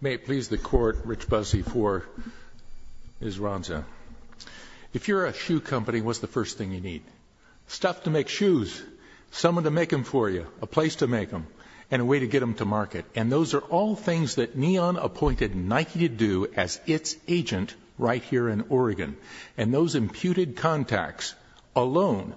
May it please the Court, Rich Buzzi for Ms. Ranza. If you're a shoe company, what's the first thing you need? Stuff to make shoes, someone to make them for you, a place to make them, and a way to get them to market. And those are all things that Neon appointed Nike to do as its agent right here in Oregon. And those imputed contacts alone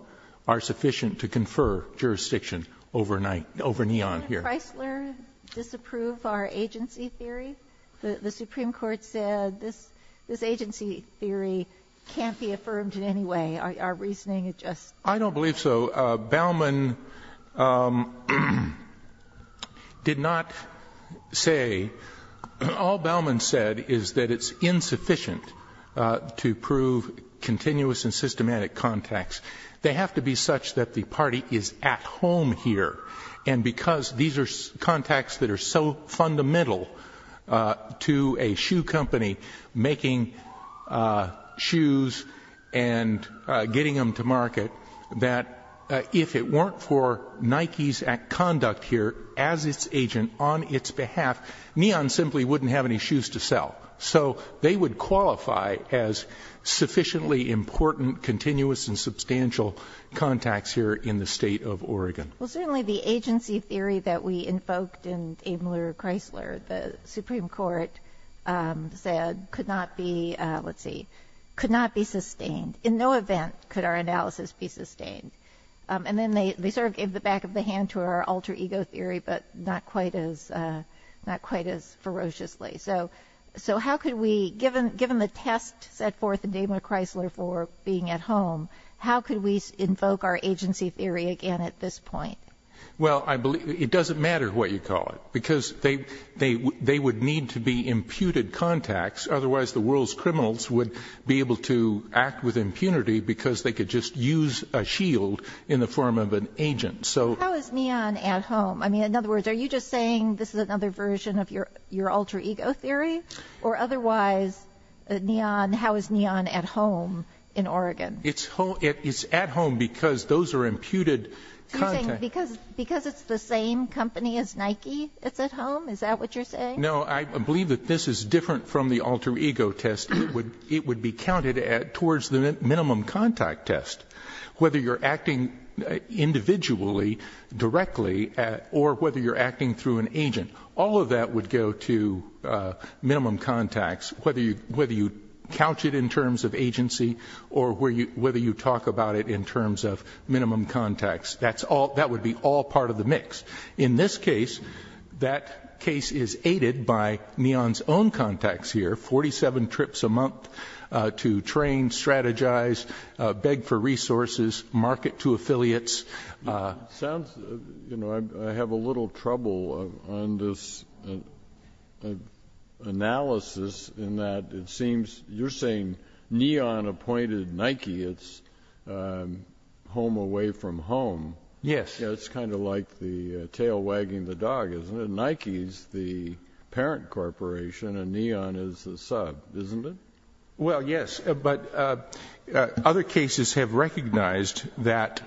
are sufficient to confer jurisdiction over Neon here. Did Chrysler disapprove our agency theory? The Supreme Court said this agency theory can't be affirmed in any way. Our reasoning is just... I don't believe so. Bauman did not say... All Bauman said is that it's insufficient to prove continuous and systematic contacts. They have to be such that the party is at home here. And because these are contacts that are so fundamental to a shoe company making shoes and getting them to market, that if it weren't for Nike's conduct here as its agent on its behalf, Neon simply wouldn't have any shoes to sell. So they would qualify as sufficiently important, continuous, and substantial contacts here in the state of Oregon. Well certainly the agency theory that we invoked in Daimler Chrysler, the Supreme Court said could not be... Let's see. Could not be sustained. In no event could our analysis be sustained. And then they sort of gave the back of the hand to our alter ego theory, but not quite as ferociously. So how could we, given the test set forth in Daimler Chrysler for being at home, how Well I believe... It doesn't matter what you call it. Because they would need to be imputed contacts, otherwise the world's criminals would be able to act with impunity because they could just use a shield in the form of an agent. So... How is Neon at home? I mean, in other words, are you just saying this is another version of your alter ego theory? Or otherwise, how is Neon at home in Oregon? It's at home because those are imputed contacts. Because it's the same company as Nike, it's at home? Is that what you're saying? No, I believe that this is different from the alter ego test. It would be counted towards the minimum contact test. Whether you're acting individually, directly, or whether you're acting through an agent. All of that would go to minimum contacts, whether you couch it in terms of agency or whether you talk about it in terms of minimum contacts. That would be all part of the mix. In this case, that case is aided by Neon's own contacts here, 47 trips a month to train, strategize, beg for resources, market to affiliates. It sounds... You know, I have a little trouble on this analysis in that it seems you're saying Neon appointed Nike its home away from home. Yes. It's kind of like the tail wagging the dog, isn't it? Nike's the parent corporation and Neon is the sub, isn't it? Well yes, but other cases have recognized that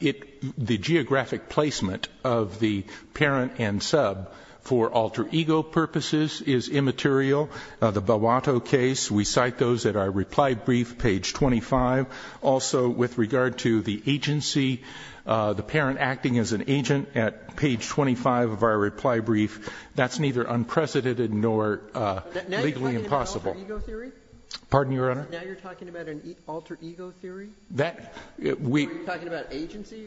the geographic placement of the parent and sub for alter ego purposes is immaterial. The Boato case, we cite those at our reply brief, page 25. Also with regard to the agency, the parent acting as an agent at page 25 of our reply brief, that's neither unprecedented nor legally impossible. Now you're talking about an alter ego theory? Pardon your honor? Now you're talking about an alter ego theory? Are you talking about agency?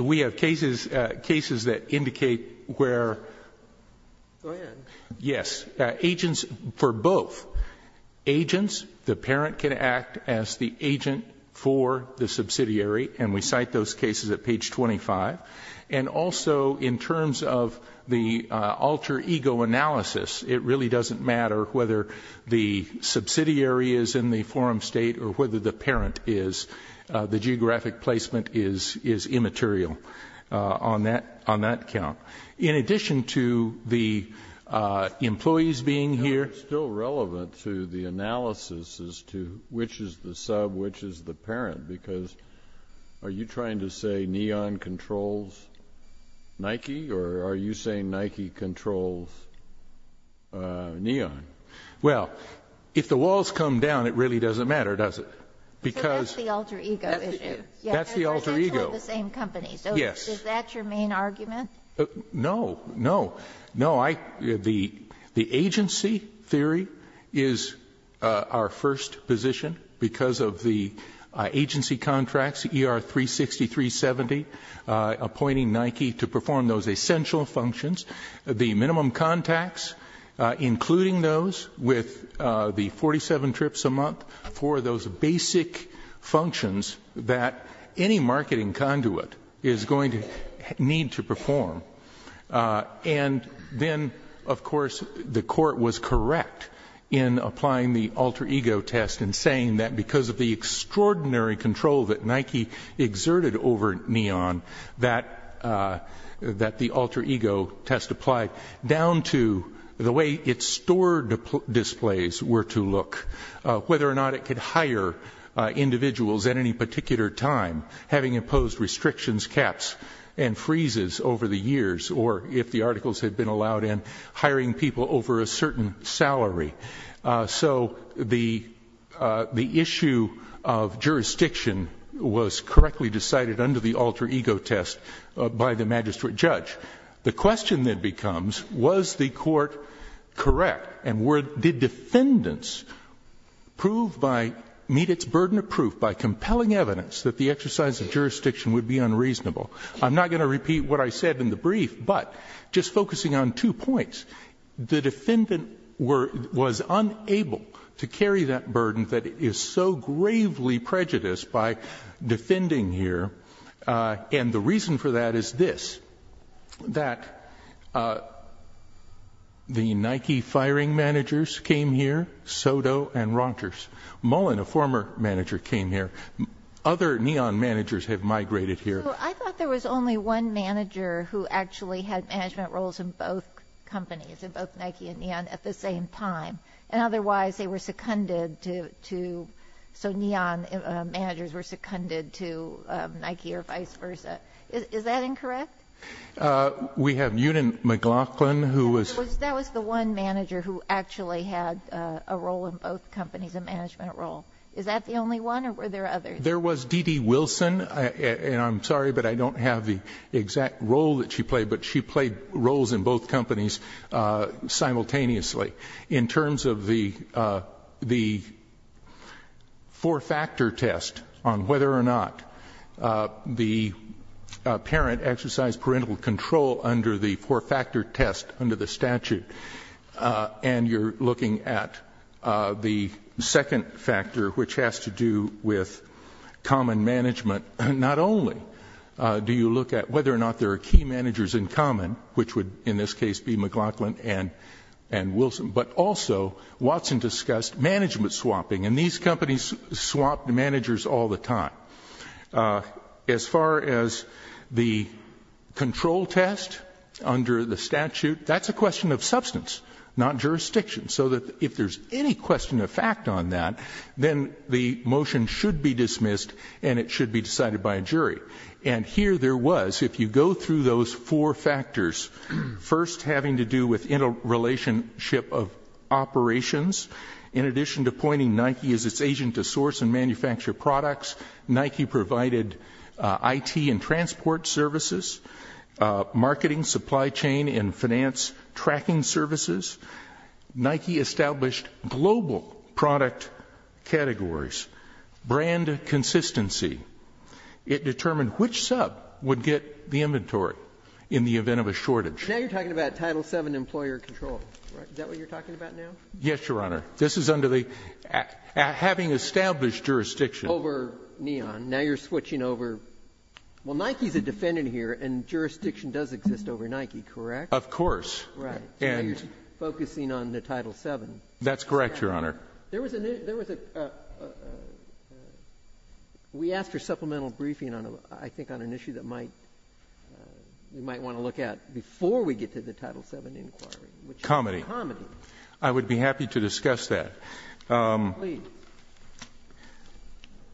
We have cases that indicate where... Go ahead. Yes. Agents for both. Agents, the parent can act as the agent for the subsidiary and we cite those cases at page 25. And also in terms of the alter ego analysis, it really doesn't matter whether the subsidiary is in the forum state or whether the parent is, the geographic placement is immaterial on that count. In addition to the employees being here... It's still relevant to the analysis as to which is the sub, which is the parent, because are you trying to say Neon controls Nike or are you saying Nike controls Neon? Well, if the walls come down, it really doesn't matter, does it? Because... So that's the alter ego issue. That's the alter ego. They're essentially the same company. Yes. So is that your main argument? No. No. No. The agency theory is our first position because of the agency contracts, ER 360, 370, appointing Nike to perform those essential functions. The minimum contacts, including those with the 47 trips a month for those basic functions that any marketing conduit is going to need to perform. And then, of course, the court was correct in applying the alter ego test in saying that because of the extraordinary control that Nike exerted over Neon, that the alter ego test applied down to the way its store displays were to look, whether or not it could hire individuals at any particular time, having imposed restrictions, caps, and freezes over the years, or if the articles had been allowed in, hiring people over a certain salary. So the issue of jurisdiction was correctly decided under the alter ego test by the magistrate judge. The question then becomes, was the court correct, and did defendants meet its burden of proof by compelling evidence that the exercise of jurisdiction would be unreasonable? I'm not going to repeat what I said in the brief, but just focusing on two points. The defendant was unable to carry that burden that is so gravely prejudiced by defending here, and the reason for that is this, that the Nike firing managers came here, Soto and Rogers. Mullen, a former manager, came here. Other Neon managers have migrated here. I thought there was only one manager who actually had management roles in both companies, in both Nike and Neon, at the same time, and otherwise they were seconded to, so Neon managers were seconded to Nike or vice versa. Is that incorrect? We have Newton McLaughlin, who was... That was the one manager who actually had a role in both companies, a management role. Is that the only one, or were there others? There was Dede Wilson, and I'm sorry, but I don't have the exact role that she played, but she played roles in both companies simultaneously. In terms of the four-factor test on whether or not the parent exercised parental control under the four-factor test under the statute, and you're looking at the second factor, which has to do with common management, not only do you look at whether or not there are key managers in common, which would, in this case, be McLaughlin and Wilson, but also, Watson discussed management swapping, and these companies swapped managers all the time. As far as the control test under the statute, that's a question of substance, not jurisdiction, so that if there's any question of fact on that, then the motion should be dismissed and it should be decided by a jury. And here there was, if you go through those four factors, first having to do with interrelationship of operations, in addition to pointing Nike as its agent to source and manufacture products, Nike provided IT and transport services, marketing, supply chain, and finance tracking services. Nike established global product categories, brand consistency. It determined which sub would get the inventory in the event of a shortage. Now you're talking about Title VII employer control, right? Is that what you're talking about now? Yes, Your Honor. This is under the, having established jurisdiction. Over Neon. Now you're switching over. Well, Nike's a defendant here and jurisdiction does exist over Nike, correct? Of course. Right. Now you're focusing on the Title VII. That's correct, Your Honor. There was a new, there was a, we asked for supplemental briefing on a, I think on an issue that might, you might want to look at before we get to the Title VII inquiry. Comedy. Comedy. I would be happy to discuss that.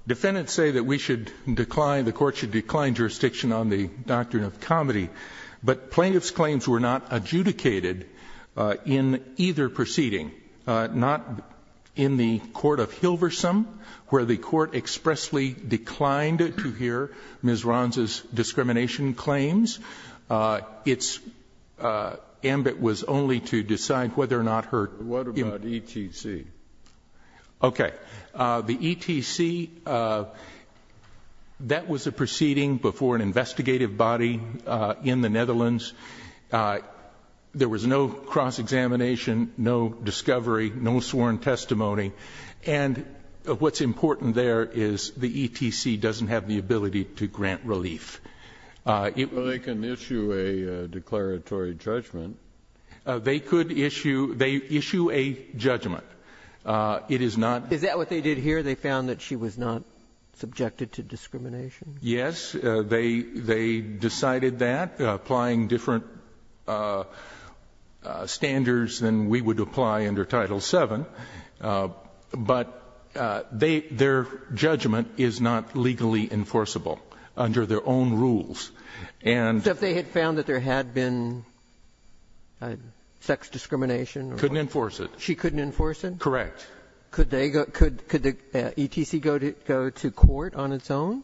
Defendants say that we should decline, the Court should decline jurisdiction on the doctrine of comedy, but plaintiff's claims were not adjudicated in either proceeding. Not in the court of Hilversum, where the court expressly declined to hear Ms. Ronza's discrimination claims. Its ambit was only to decide whether or not her. What about ETC? Okay. The ETC, that was a proceeding before an investigative body in the Netherlands. There was no cross-examination, no discovery, no sworn testimony. And what's important there is the ETC doesn't have the ability to grant relief. Well, they can issue a declaratory judgment. They could issue, they issue a judgment. It is not. Is that what they did here? They found that she was not subjected to discrimination? Yes. They, they decided that, applying different standards than we would apply under Title VII. But they, their judgment is not legally enforceable under their own rules. And. So if they had found that there had been sex discrimination. Couldn't enforce it. She couldn't enforce it? Correct. Could they go, could the ETC go to court on its own?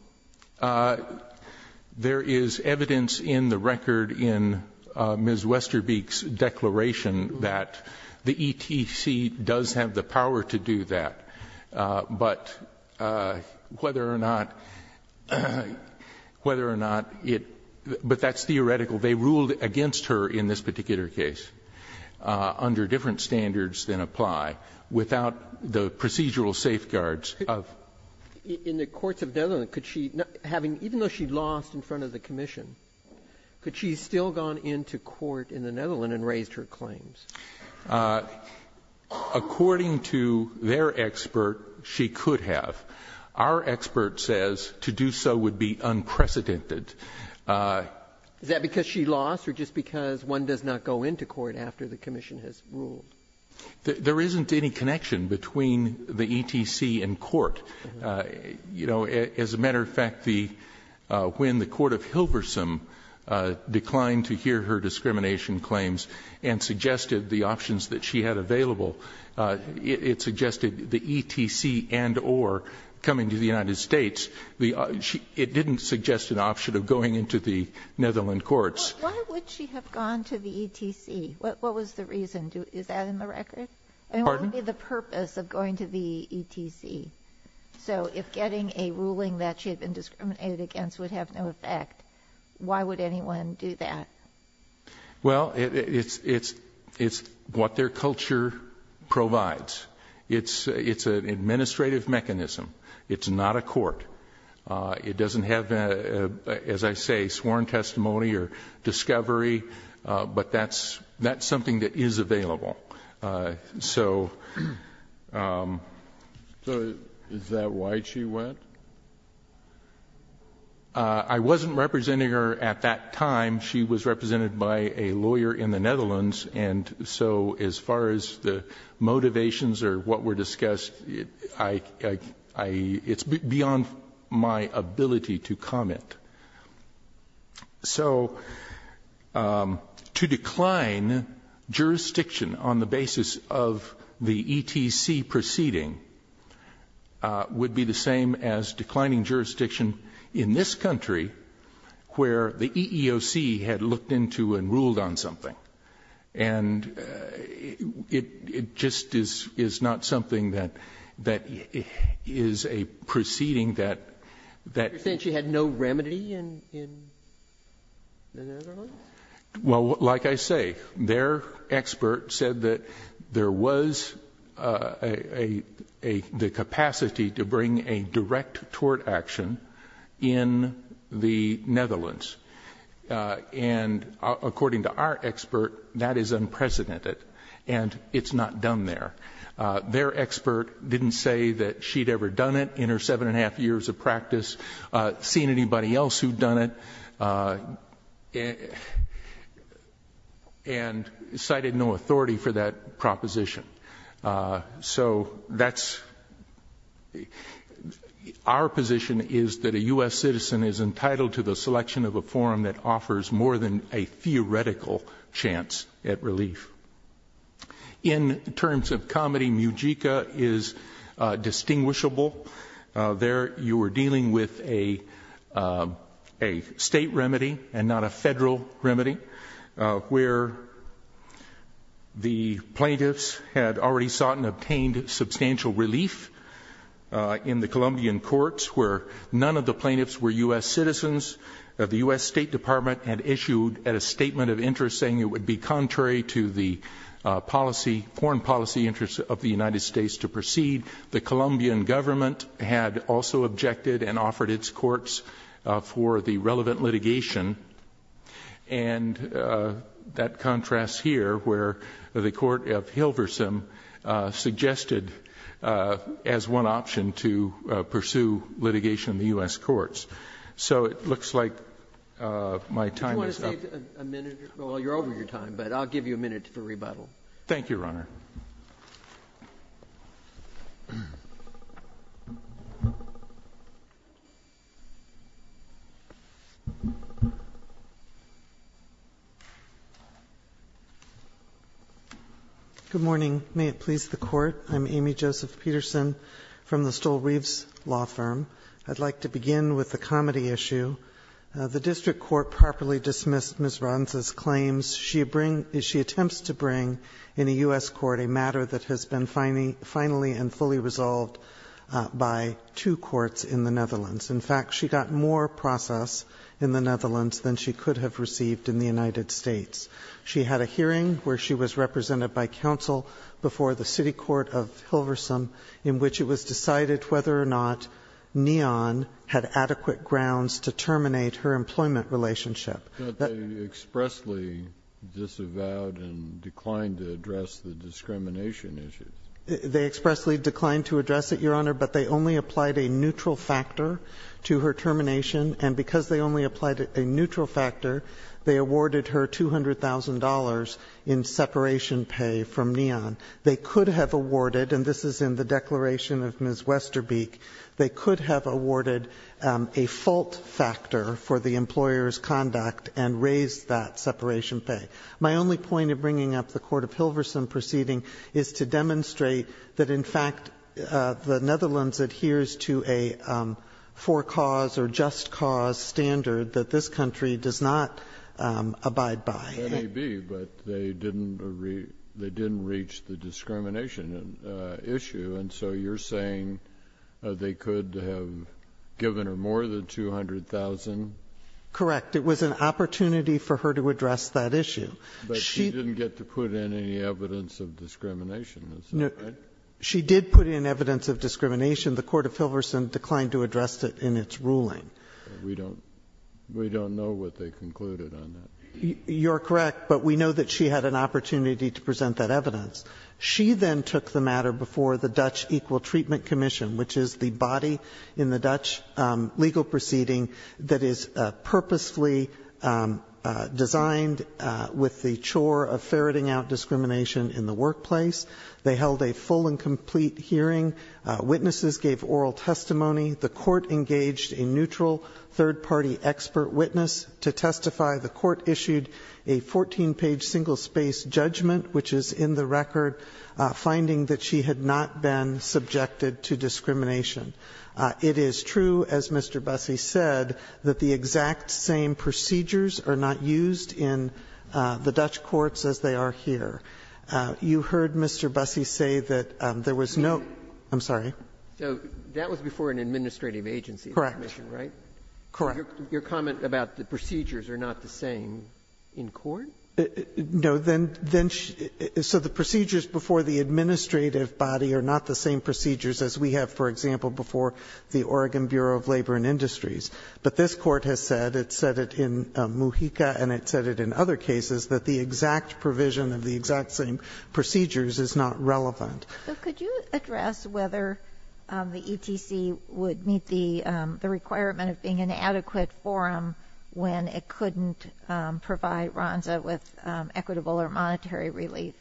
There is evidence in the record in Ms. Westerbeek's declaration that the ETC does have the power to do that, but whether or not, whether or not it, but that's theoretical. They ruled against her in this particular case under different standards than apply. Without the procedural safeguards of. In the courts of Netherlands, could she, having, even though she lost in front of the commission, could she still have gone into court in the Netherlands and raised her claims? According to their expert, she could have. Our expert says to do so would be unprecedented. Is that because she lost or just because one does not go into court after the commission has ruled? There isn't any connection between the ETC and court. You know, as a matter of fact, the when the court of Hilversum declined to hear her discrimination claims and suggested the options that she had available, it suggested the ETC and or coming to the United States. It didn't suggest an option of going into the Netherlands courts. Why would she have gone to the ETC? What was the reason? Is that in the record? Pardon me? The purpose of going to the ETC. So if getting a ruling that she had been discriminated against would have no effect, why would anyone do that? Well, it's it's it's what their culture provides. It's it's an administrative mechanism. It's not a court. It doesn't have, as I say, sworn testimony or discovery. But that's that's something that is available. So is that why she went? I wasn't representing her at that time. She was represented by a lawyer in the Netherlands. And so as far as the motivations or what were discussed, I it's beyond my ability to comment. So to decline jurisdiction on the basis of the ETC proceeding would be the same as declining jurisdiction in this country where the EEOC had looked into and ruled on something and it just is not something that that is a proceeding that that since you had no remedy and in the Netherlands. Well, like I say, their expert said that there was a the capacity to bring a direct tort action in the Netherlands. And according to our expert, that is unprecedented and it's not done there. Their expert didn't say that she'd ever done it in her seven and a half years of practice, seen anybody else who'd done it and cited no authority for that proposition. So that's our position is that a U.S. citizen is entitled to the selection of a forum that offers more than a theoretical chance at relief. In terms of comedy, Mujica is distinguishable. There you were dealing with a a state remedy and not a federal remedy where the plaintiffs had already sought and obtained substantial relief in the Colombian courts where none of the plaintiffs were U.S. citizens of the U.S. State Department and issued at a statement of interest saying it would be policy foreign policy interests of the United States to proceed. The Colombian government had also objected and offered its courts for the relevant litigation and that contrasts here where the court of Hilverson suggested as one option to pursue litigation in the U.S. courts. So it looks like my time is up. I'd like a minute, well you're over your time, but I'll give you a minute for rebuttal. Thank you, Your Honor. Good morning. May it please the Court. I'm Amy Joseph Peterson from the Stoll-Reeves Law Firm. I'd like to begin with the comedy issue. The district court properly dismissed Ms. Ronza's claims. She attempts to bring in a U.S. court a matter that has been finally and fully resolved by two courts in the Netherlands. In fact, she got more process in the Netherlands than she could have received in the United States. She had a hearing where she was represented by counsel before the city court of Hilverson in which it was decided whether or not Neon had adequate grounds to terminate her employment relationship. But they expressly disavowed and declined to address the discrimination issues. They expressly declined to address it, Your Honor, but they only applied a neutral factor to her termination and because they only applied a neutral factor, they awarded her $200,000 in separation pay from Neon. And they only applied a neutral factor for the employer's conduct and raised that separation pay. My only point in bringing up the court of Hilverson proceeding is to demonstrate that in fact the Netherlands adheres to a for-cause or just-cause standard that this country does not abide by. It may be, but they didn't reach the discrimination issue, and so you're saying they could have given her more than $200,000? Correct. It was an opportunity for her to address that issue. But she didn't get to put in any evidence of discrimination, is that right? She did put in evidence of discrimination. The court of Hilverson declined to address it in its ruling. We don't know what they concluded on that. You're correct, but we know that she had an opportunity to present that evidence. She then took the matter before the Dutch Equal Treatment Commission, which is the body in the Dutch legal proceeding that is purposefully designed with the chore of ferreting out discrimination in the workplace. They held a full and complete hearing. Witnesses gave oral testimony. The court engaged a neutral, third-party expert witness to testify. The court issued a 14-page single-space judgment, which is in the record, finding that she had not been subjected to discrimination. It is true, as Mr. Busse said, that the exact same procedures are not used in the Dutch courts as they are here. You heard Mr. Busse say that there was no ---- I'm sorry. So that was before an administrative agency commission, right? Correct. Correct. Your comment about the procedures are not the same in court? No. Then she ---- so the procedures before the administrative body are not the same procedures as we have, for example, before the Oregon Bureau of Labor and Industries. But this Court has said, it said it in Mujica and it said it in other cases, that the exact provision of the exact same procedures is not relevant. So could you address whether the ETC would meet the requirement of being an adequate forum when it couldn't provide RONSA with equitable or monetary relief?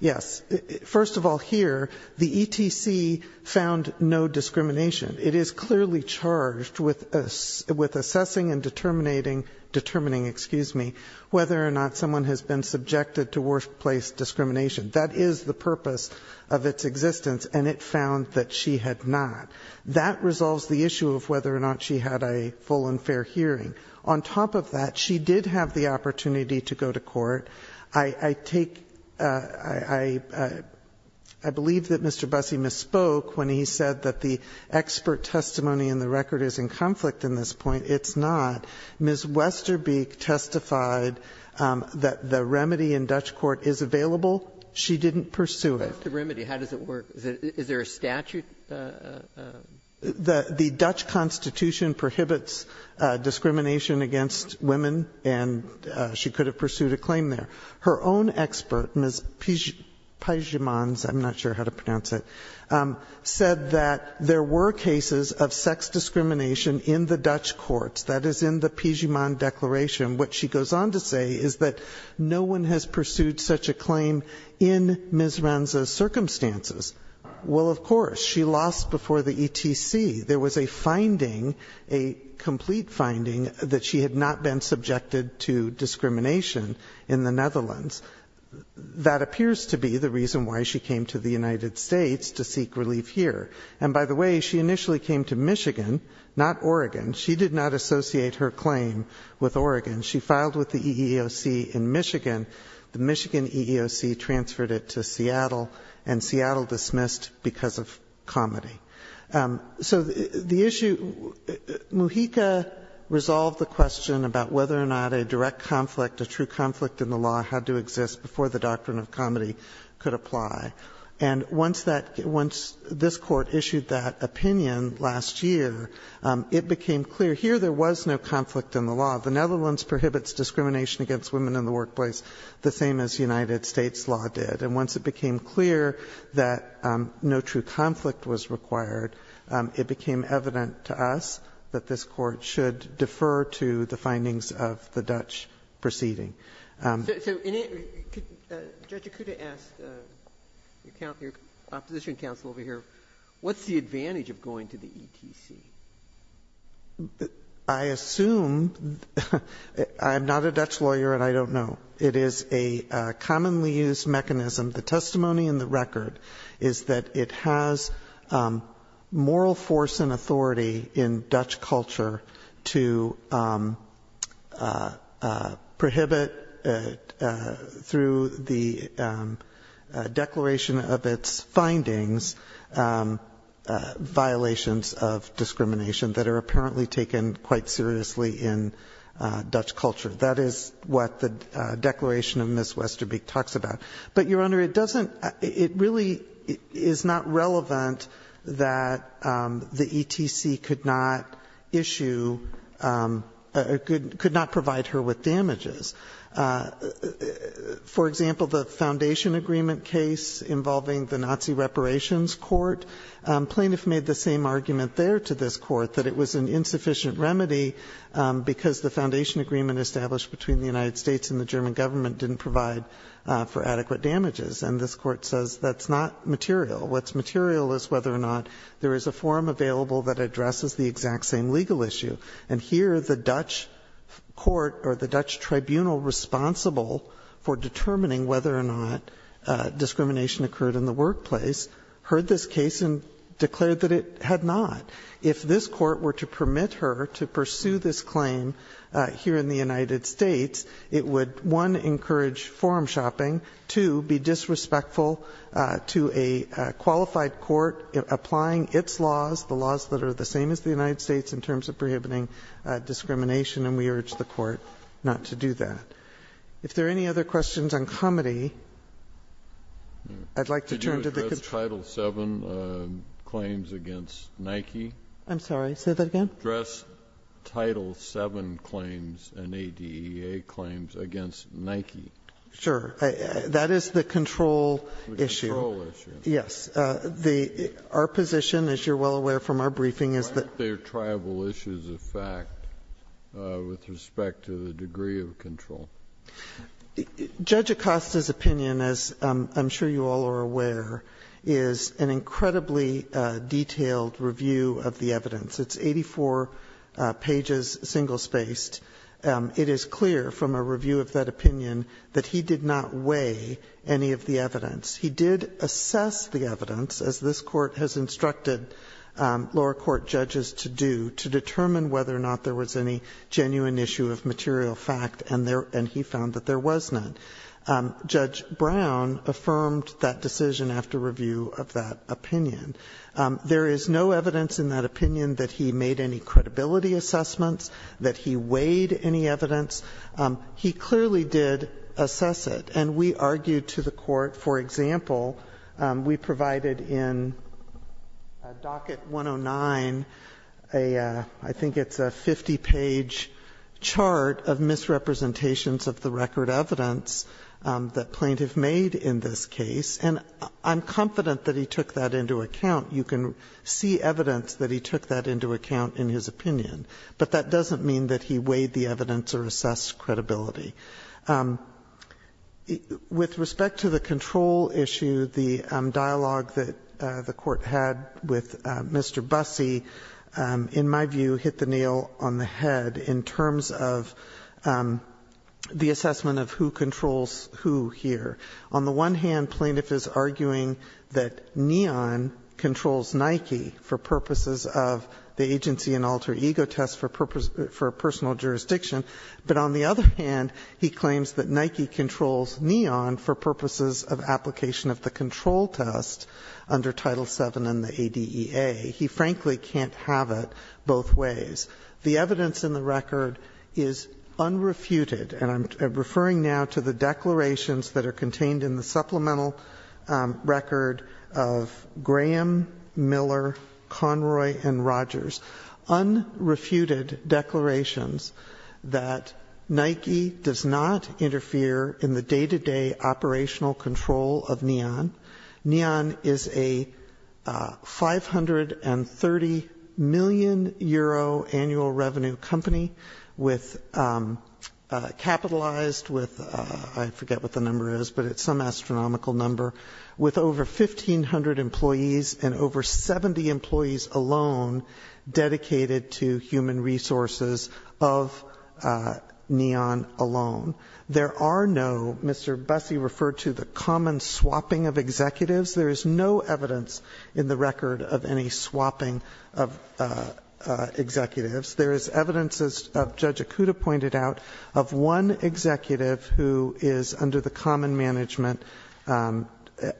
Yes. First of all, here, the ETC found no discrimination. It is clearly charged with assessing and determining whether or not someone has been subjected to workplace discrimination. That is the purpose of its existence and it found that she had not. That resolves the issue of whether or not she had a full and fair hearing. On top of that, she did have the opportunity to go to court. I take ---- I believe that Mr. Busse misspoke when he said that the expert testimony in the record is in conflict in this point. It's not. Ms. Westerbeek testified that the remedy in Dutch court is available. She didn't pursue it. That's the remedy. How does it work? Is there a statute? The Dutch Constitution prohibits discrimination against women and she could have pursued a claim there. Her own expert, Ms. Peijemans, I'm not sure how to pronounce it, said that there were cases of sex discrimination in the Dutch courts. That is in the Peijemans declaration. What she goes on to say is that no one has pursued such a claim in Ms. Renza's circumstances. Well, of course, she lost before the ETC. There was a finding, a complete finding, that she had not been subjected to discrimination in the Netherlands. That appears to be the reason why she came to the United States to seek relief here. And by the way, she initially came to Michigan, not Oregon. She did not associate her claim with Oregon. She filed with the EEOC in Michigan. The Michigan EEOC transferred it to Seattle and Seattle dismissed because of comedy. So the issue, Mujica resolved the question about whether or not a direct conflict, a true conflict in the law had to exist before the doctrine of comedy could apply. And once that, once this Court issued that opinion last year, it became clear here there was no conflict in the law. The Netherlands prohibits discrimination against women in the workplace the same as United States law did. And once it became clear that no true conflict was required, it became evident to us that this Court should defer to the findings of the Dutch proceeding. So Judge Ikuda asked your opposition counsel over here, what's the advantage of going to the ETC? I assume, I'm not a Dutch lawyer and I don't know. It is a commonly used mechanism. The testimony in the record is that it has moral force and authority in Dutch culture to prohibit through the declaration of its findings violations of discrimination that are apparently taken quite seriously in Dutch culture. That is what the declaration of Ms. Westerbeek talks about. But your Honor, it doesn't, it really is not relevant that the ETC could not issue, could not provide her with damages. For example, the foundation agreement case involving the Nazi reparations court, plaintiff made the same argument there to this court, that it was an insufficient remedy because the foundation agreement established between the United States and the German government didn't provide for adequate damages. And this Court says that's not material. What's material is whether or not there is a forum available that addresses the exact same legal issue. And here the Dutch court, or the Dutch tribunal responsible for determining whether or not discrimination occurred in the workplace, heard this case and declared that it had not. If this court were to permit her to pursue this claim here in the United States, it would, one, encourage forum shopping, two, be disrespectful to a qualified court applying its laws, the laws that are the same as the United States in terms of prohibiting discrimination, and we urge the court not to do that. If there are any other questions on comity, I'd like to turn to the Court. Did you address Title VII claims against Nike? I'm sorry, say that again? Did you address Title VII claims and ADEA claims against Nike? Sure. That is the control issue. The control issue. Yes. Our position, as you're well aware from our briefing, is that Why aren't there tribal issues of fact with respect to the degree of control? Judge Acosta's opinion, as I'm sure you all are aware, is an incredibly detailed review of the evidence. It's 84 pages, single-spaced. It is clear from a review of that opinion that he did not weigh any of the evidence. He did assess the evidence, as this Court has instructed lower court judges to do, to determine whether or not there was any genuine issue of material fact, and he found that there was none. There is no evidence in that opinion that he made any credibility assessments, that he weighed any evidence. He clearly did assess it, and we argued to the Court, for example, we provided in docket 109, I think it's a 50-page chart of misrepresentations of the record evidence that plaintiff made in this case, and I'm confident that he took that into account. You can see evidence that he took that into account in his opinion, but that doesn't mean that he weighed the evidence or assessed credibility. With respect to the control issue, the dialogue that the Court had with Mr. Busse, in my view, hit the nail on the head in terms of the assessment of who controls who here. On the one hand, plaintiff is arguing that Neon controls Nike for purposes of the agency and alter ego test for personal jurisdiction, but on the other hand, he claims that Nike controls Neon for purposes of application of the control test under Title VII and the ADEA. He frankly can't have it both ways. The evidence in the record is unrefuted, and I'm referring now to the declarations that are contained in the supplemental record of Graham, Miller, Conroy, and Rogers, unrefuted declarations that Nike does not interfere in the day-to-day operational control of Neon. Neon is a 530 million euro annual revenue company capitalized with, I forget what the number is, but it's some astronomical number, with over 1,500 employees and over 70 employees alone dedicated to human resources of Neon alone. There are no, Mr. Busse referred to the common swapping of executives, there is no evidence in the record of any swapping of executives. There is evidence, as Judge Okuda pointed out, of one executive who is under the common management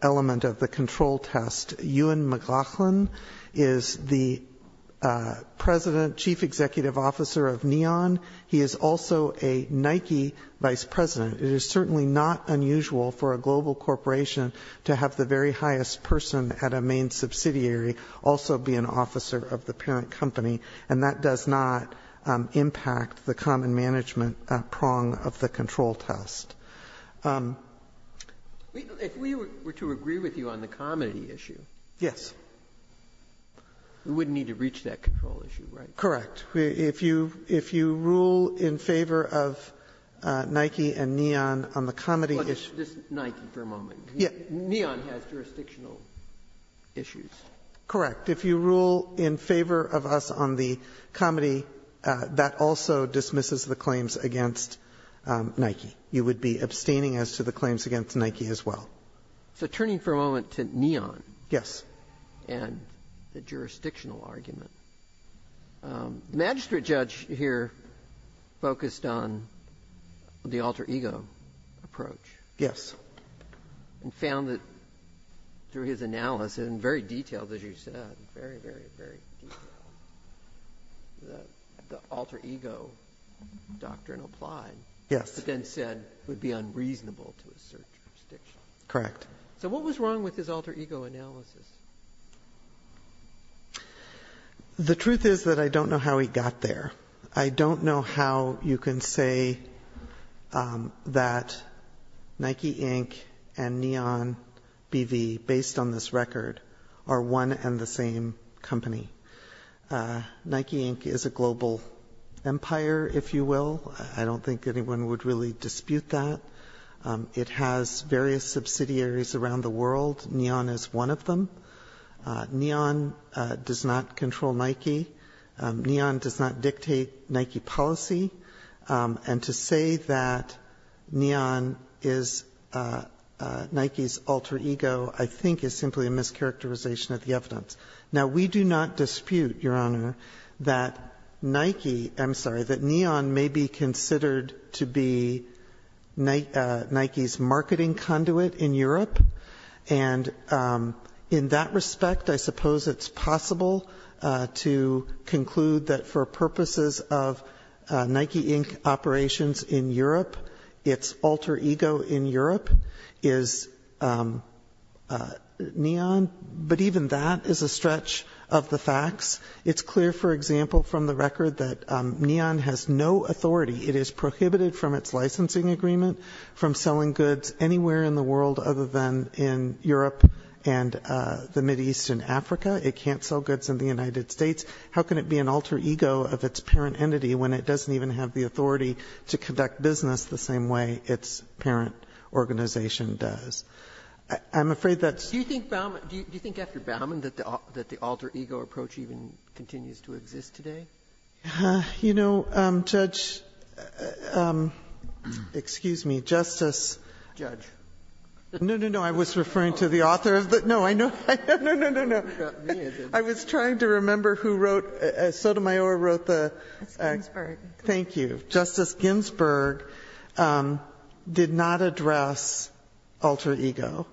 element of the control test. Ewan McGoughlin is the president, chief executive officer of Neon. He is also a Nike vice president. It is certainly not unusual for a global corporation to have the very highest person at a main subsidiary also be an officer of the parent company, and that does not impact the common management prong of the control test. If we were to agree with you on the comedy issue, we wouldn't need to reach that control issue, right? Correct. If you rule in favor of Nike and Neon on the comedy issue Just Nike for a moment. Neon has jurisdictional issues. Correct. If you rule in favor of us on the comedy, that also dismisses the claims against Nike. You would be abstaining as to the claims against Nike as well. So turning for a moment to Neon. Yes. And the jurisdictional argument. The magistrate judge here focused on the alter ego approach. Yes. And found that through his analysis, and very detailed as you said, very, very, very detailed, the alter ego doctrine applied. Yes. But then said it would be unreasonable to assert jurisdiction. Correct. So what was wrong with his alter ego analysis? The truth is that I don't know how he got there. I don't know how you can say that Nike Inc. and Neon BV, based on this record, are one and the same company. Nike Inc. is a global empire, if you will. I don't think anyone would really dispute that. It has various subsidiaries around the world. Neon is one of them. Neon does not control Nike. Neon does not dictate Nike policy. And to say that Neon is Nike's alter ego I think is simply a mischaracterization of the evidence. Now we do not dispute, Your Honor, that Nike, I'm sorry, that Neon may be considered And in that respect, I suppose it's possible to conclude that for purposes of Nike Inc. operations in Europe, its alter ego in Europe is Neon. But even that is a stretch of the facts. It's clear, for example, from the record that Neon has no authority. It is prohibited from its licensing agreement, from selling goods anywhere in the world other than in Europe and the Mideast and Africa. It can't sell goods in the United States. How can it be an alter ego of its parent entity when it doesn't even have the authority to conduct business the same way its parent organization does? I'm afraid that's Do you think after Bauman that the alter ego approach even continues to exist today? You know, Judge, excuse me, Justice Judge. No, no, no. I was referring to the author. No, I know. No, no, no, no. I was trying to remember who wrote, Sotomayor wrote the Ginsburg. Thank you. Justice Ginsburg did not address alter ego.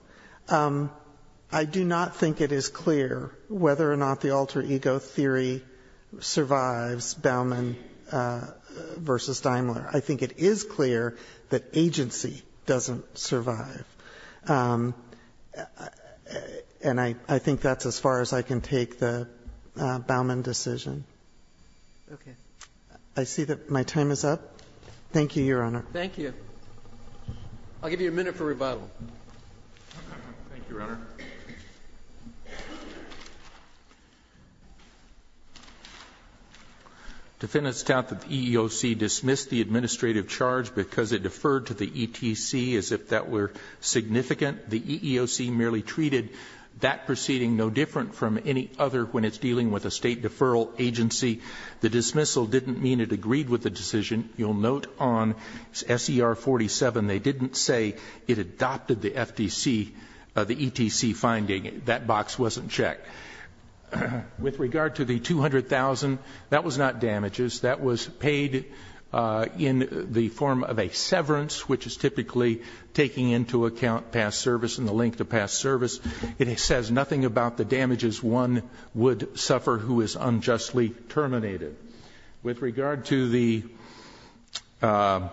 I do not think it is clear whether or not the alter ego theory survives Bauman v. Daimler. I think it is clear that agency doesn't survive. And I think that's as far as I can take the Bauman decision. Okay. I see that my time is up. Thank you, Your Honor. Thank you. I'll give you a minute for rebuttal. Thank you, Your Honor. Thank you. Defendants doubt that the EEOC dismissed the administrative charge because it deferred to the ETC as if that were significant. The EEOC merely treated that proceeding no different from any other when it's dealing with a state deferral agency. The dismissal didn't mean it agreed with the decision. You'll note on SER 47, they didn't say it adopted the FTC, the ETC finding. That box wasn't checked. With regard to the 200,000, that was not damages. That was paid in the form of a severance, which is typically taking into account past service and the length of past service. It says nothing about the damages one would suffer who is unjustly terminated. With regard to the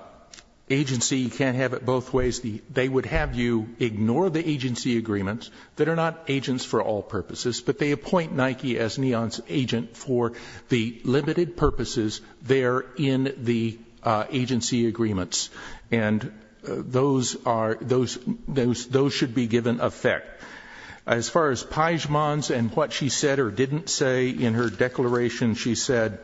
agency, you can't have it both ways. They would have you ignore the agency agreements that are not agents for all purposes, but they appoint Nike as NEON's agent for the limited purposes there in the agency agreements. Those should be given effect. As far as Peijmans and what she said or didn't say in her declaration, she said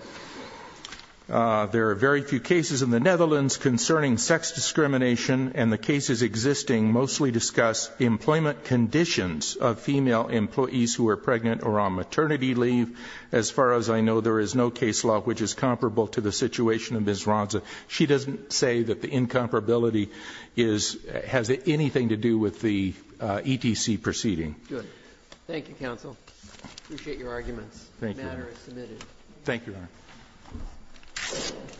there are very few cases in the Netherlands concerning sex discrimination and the cases existing mostly discuss employment conditions of female employees who are pregnant or on maternity leave. As far as I know, there is no case law which is comparable to the situation of Ms. Ronza. She doesn't say that the incomparability has anything to do with the ETC proceeding. Thank you, counsel. I appreciate your arguments. The matter is submitted. Thank you, Your Honor.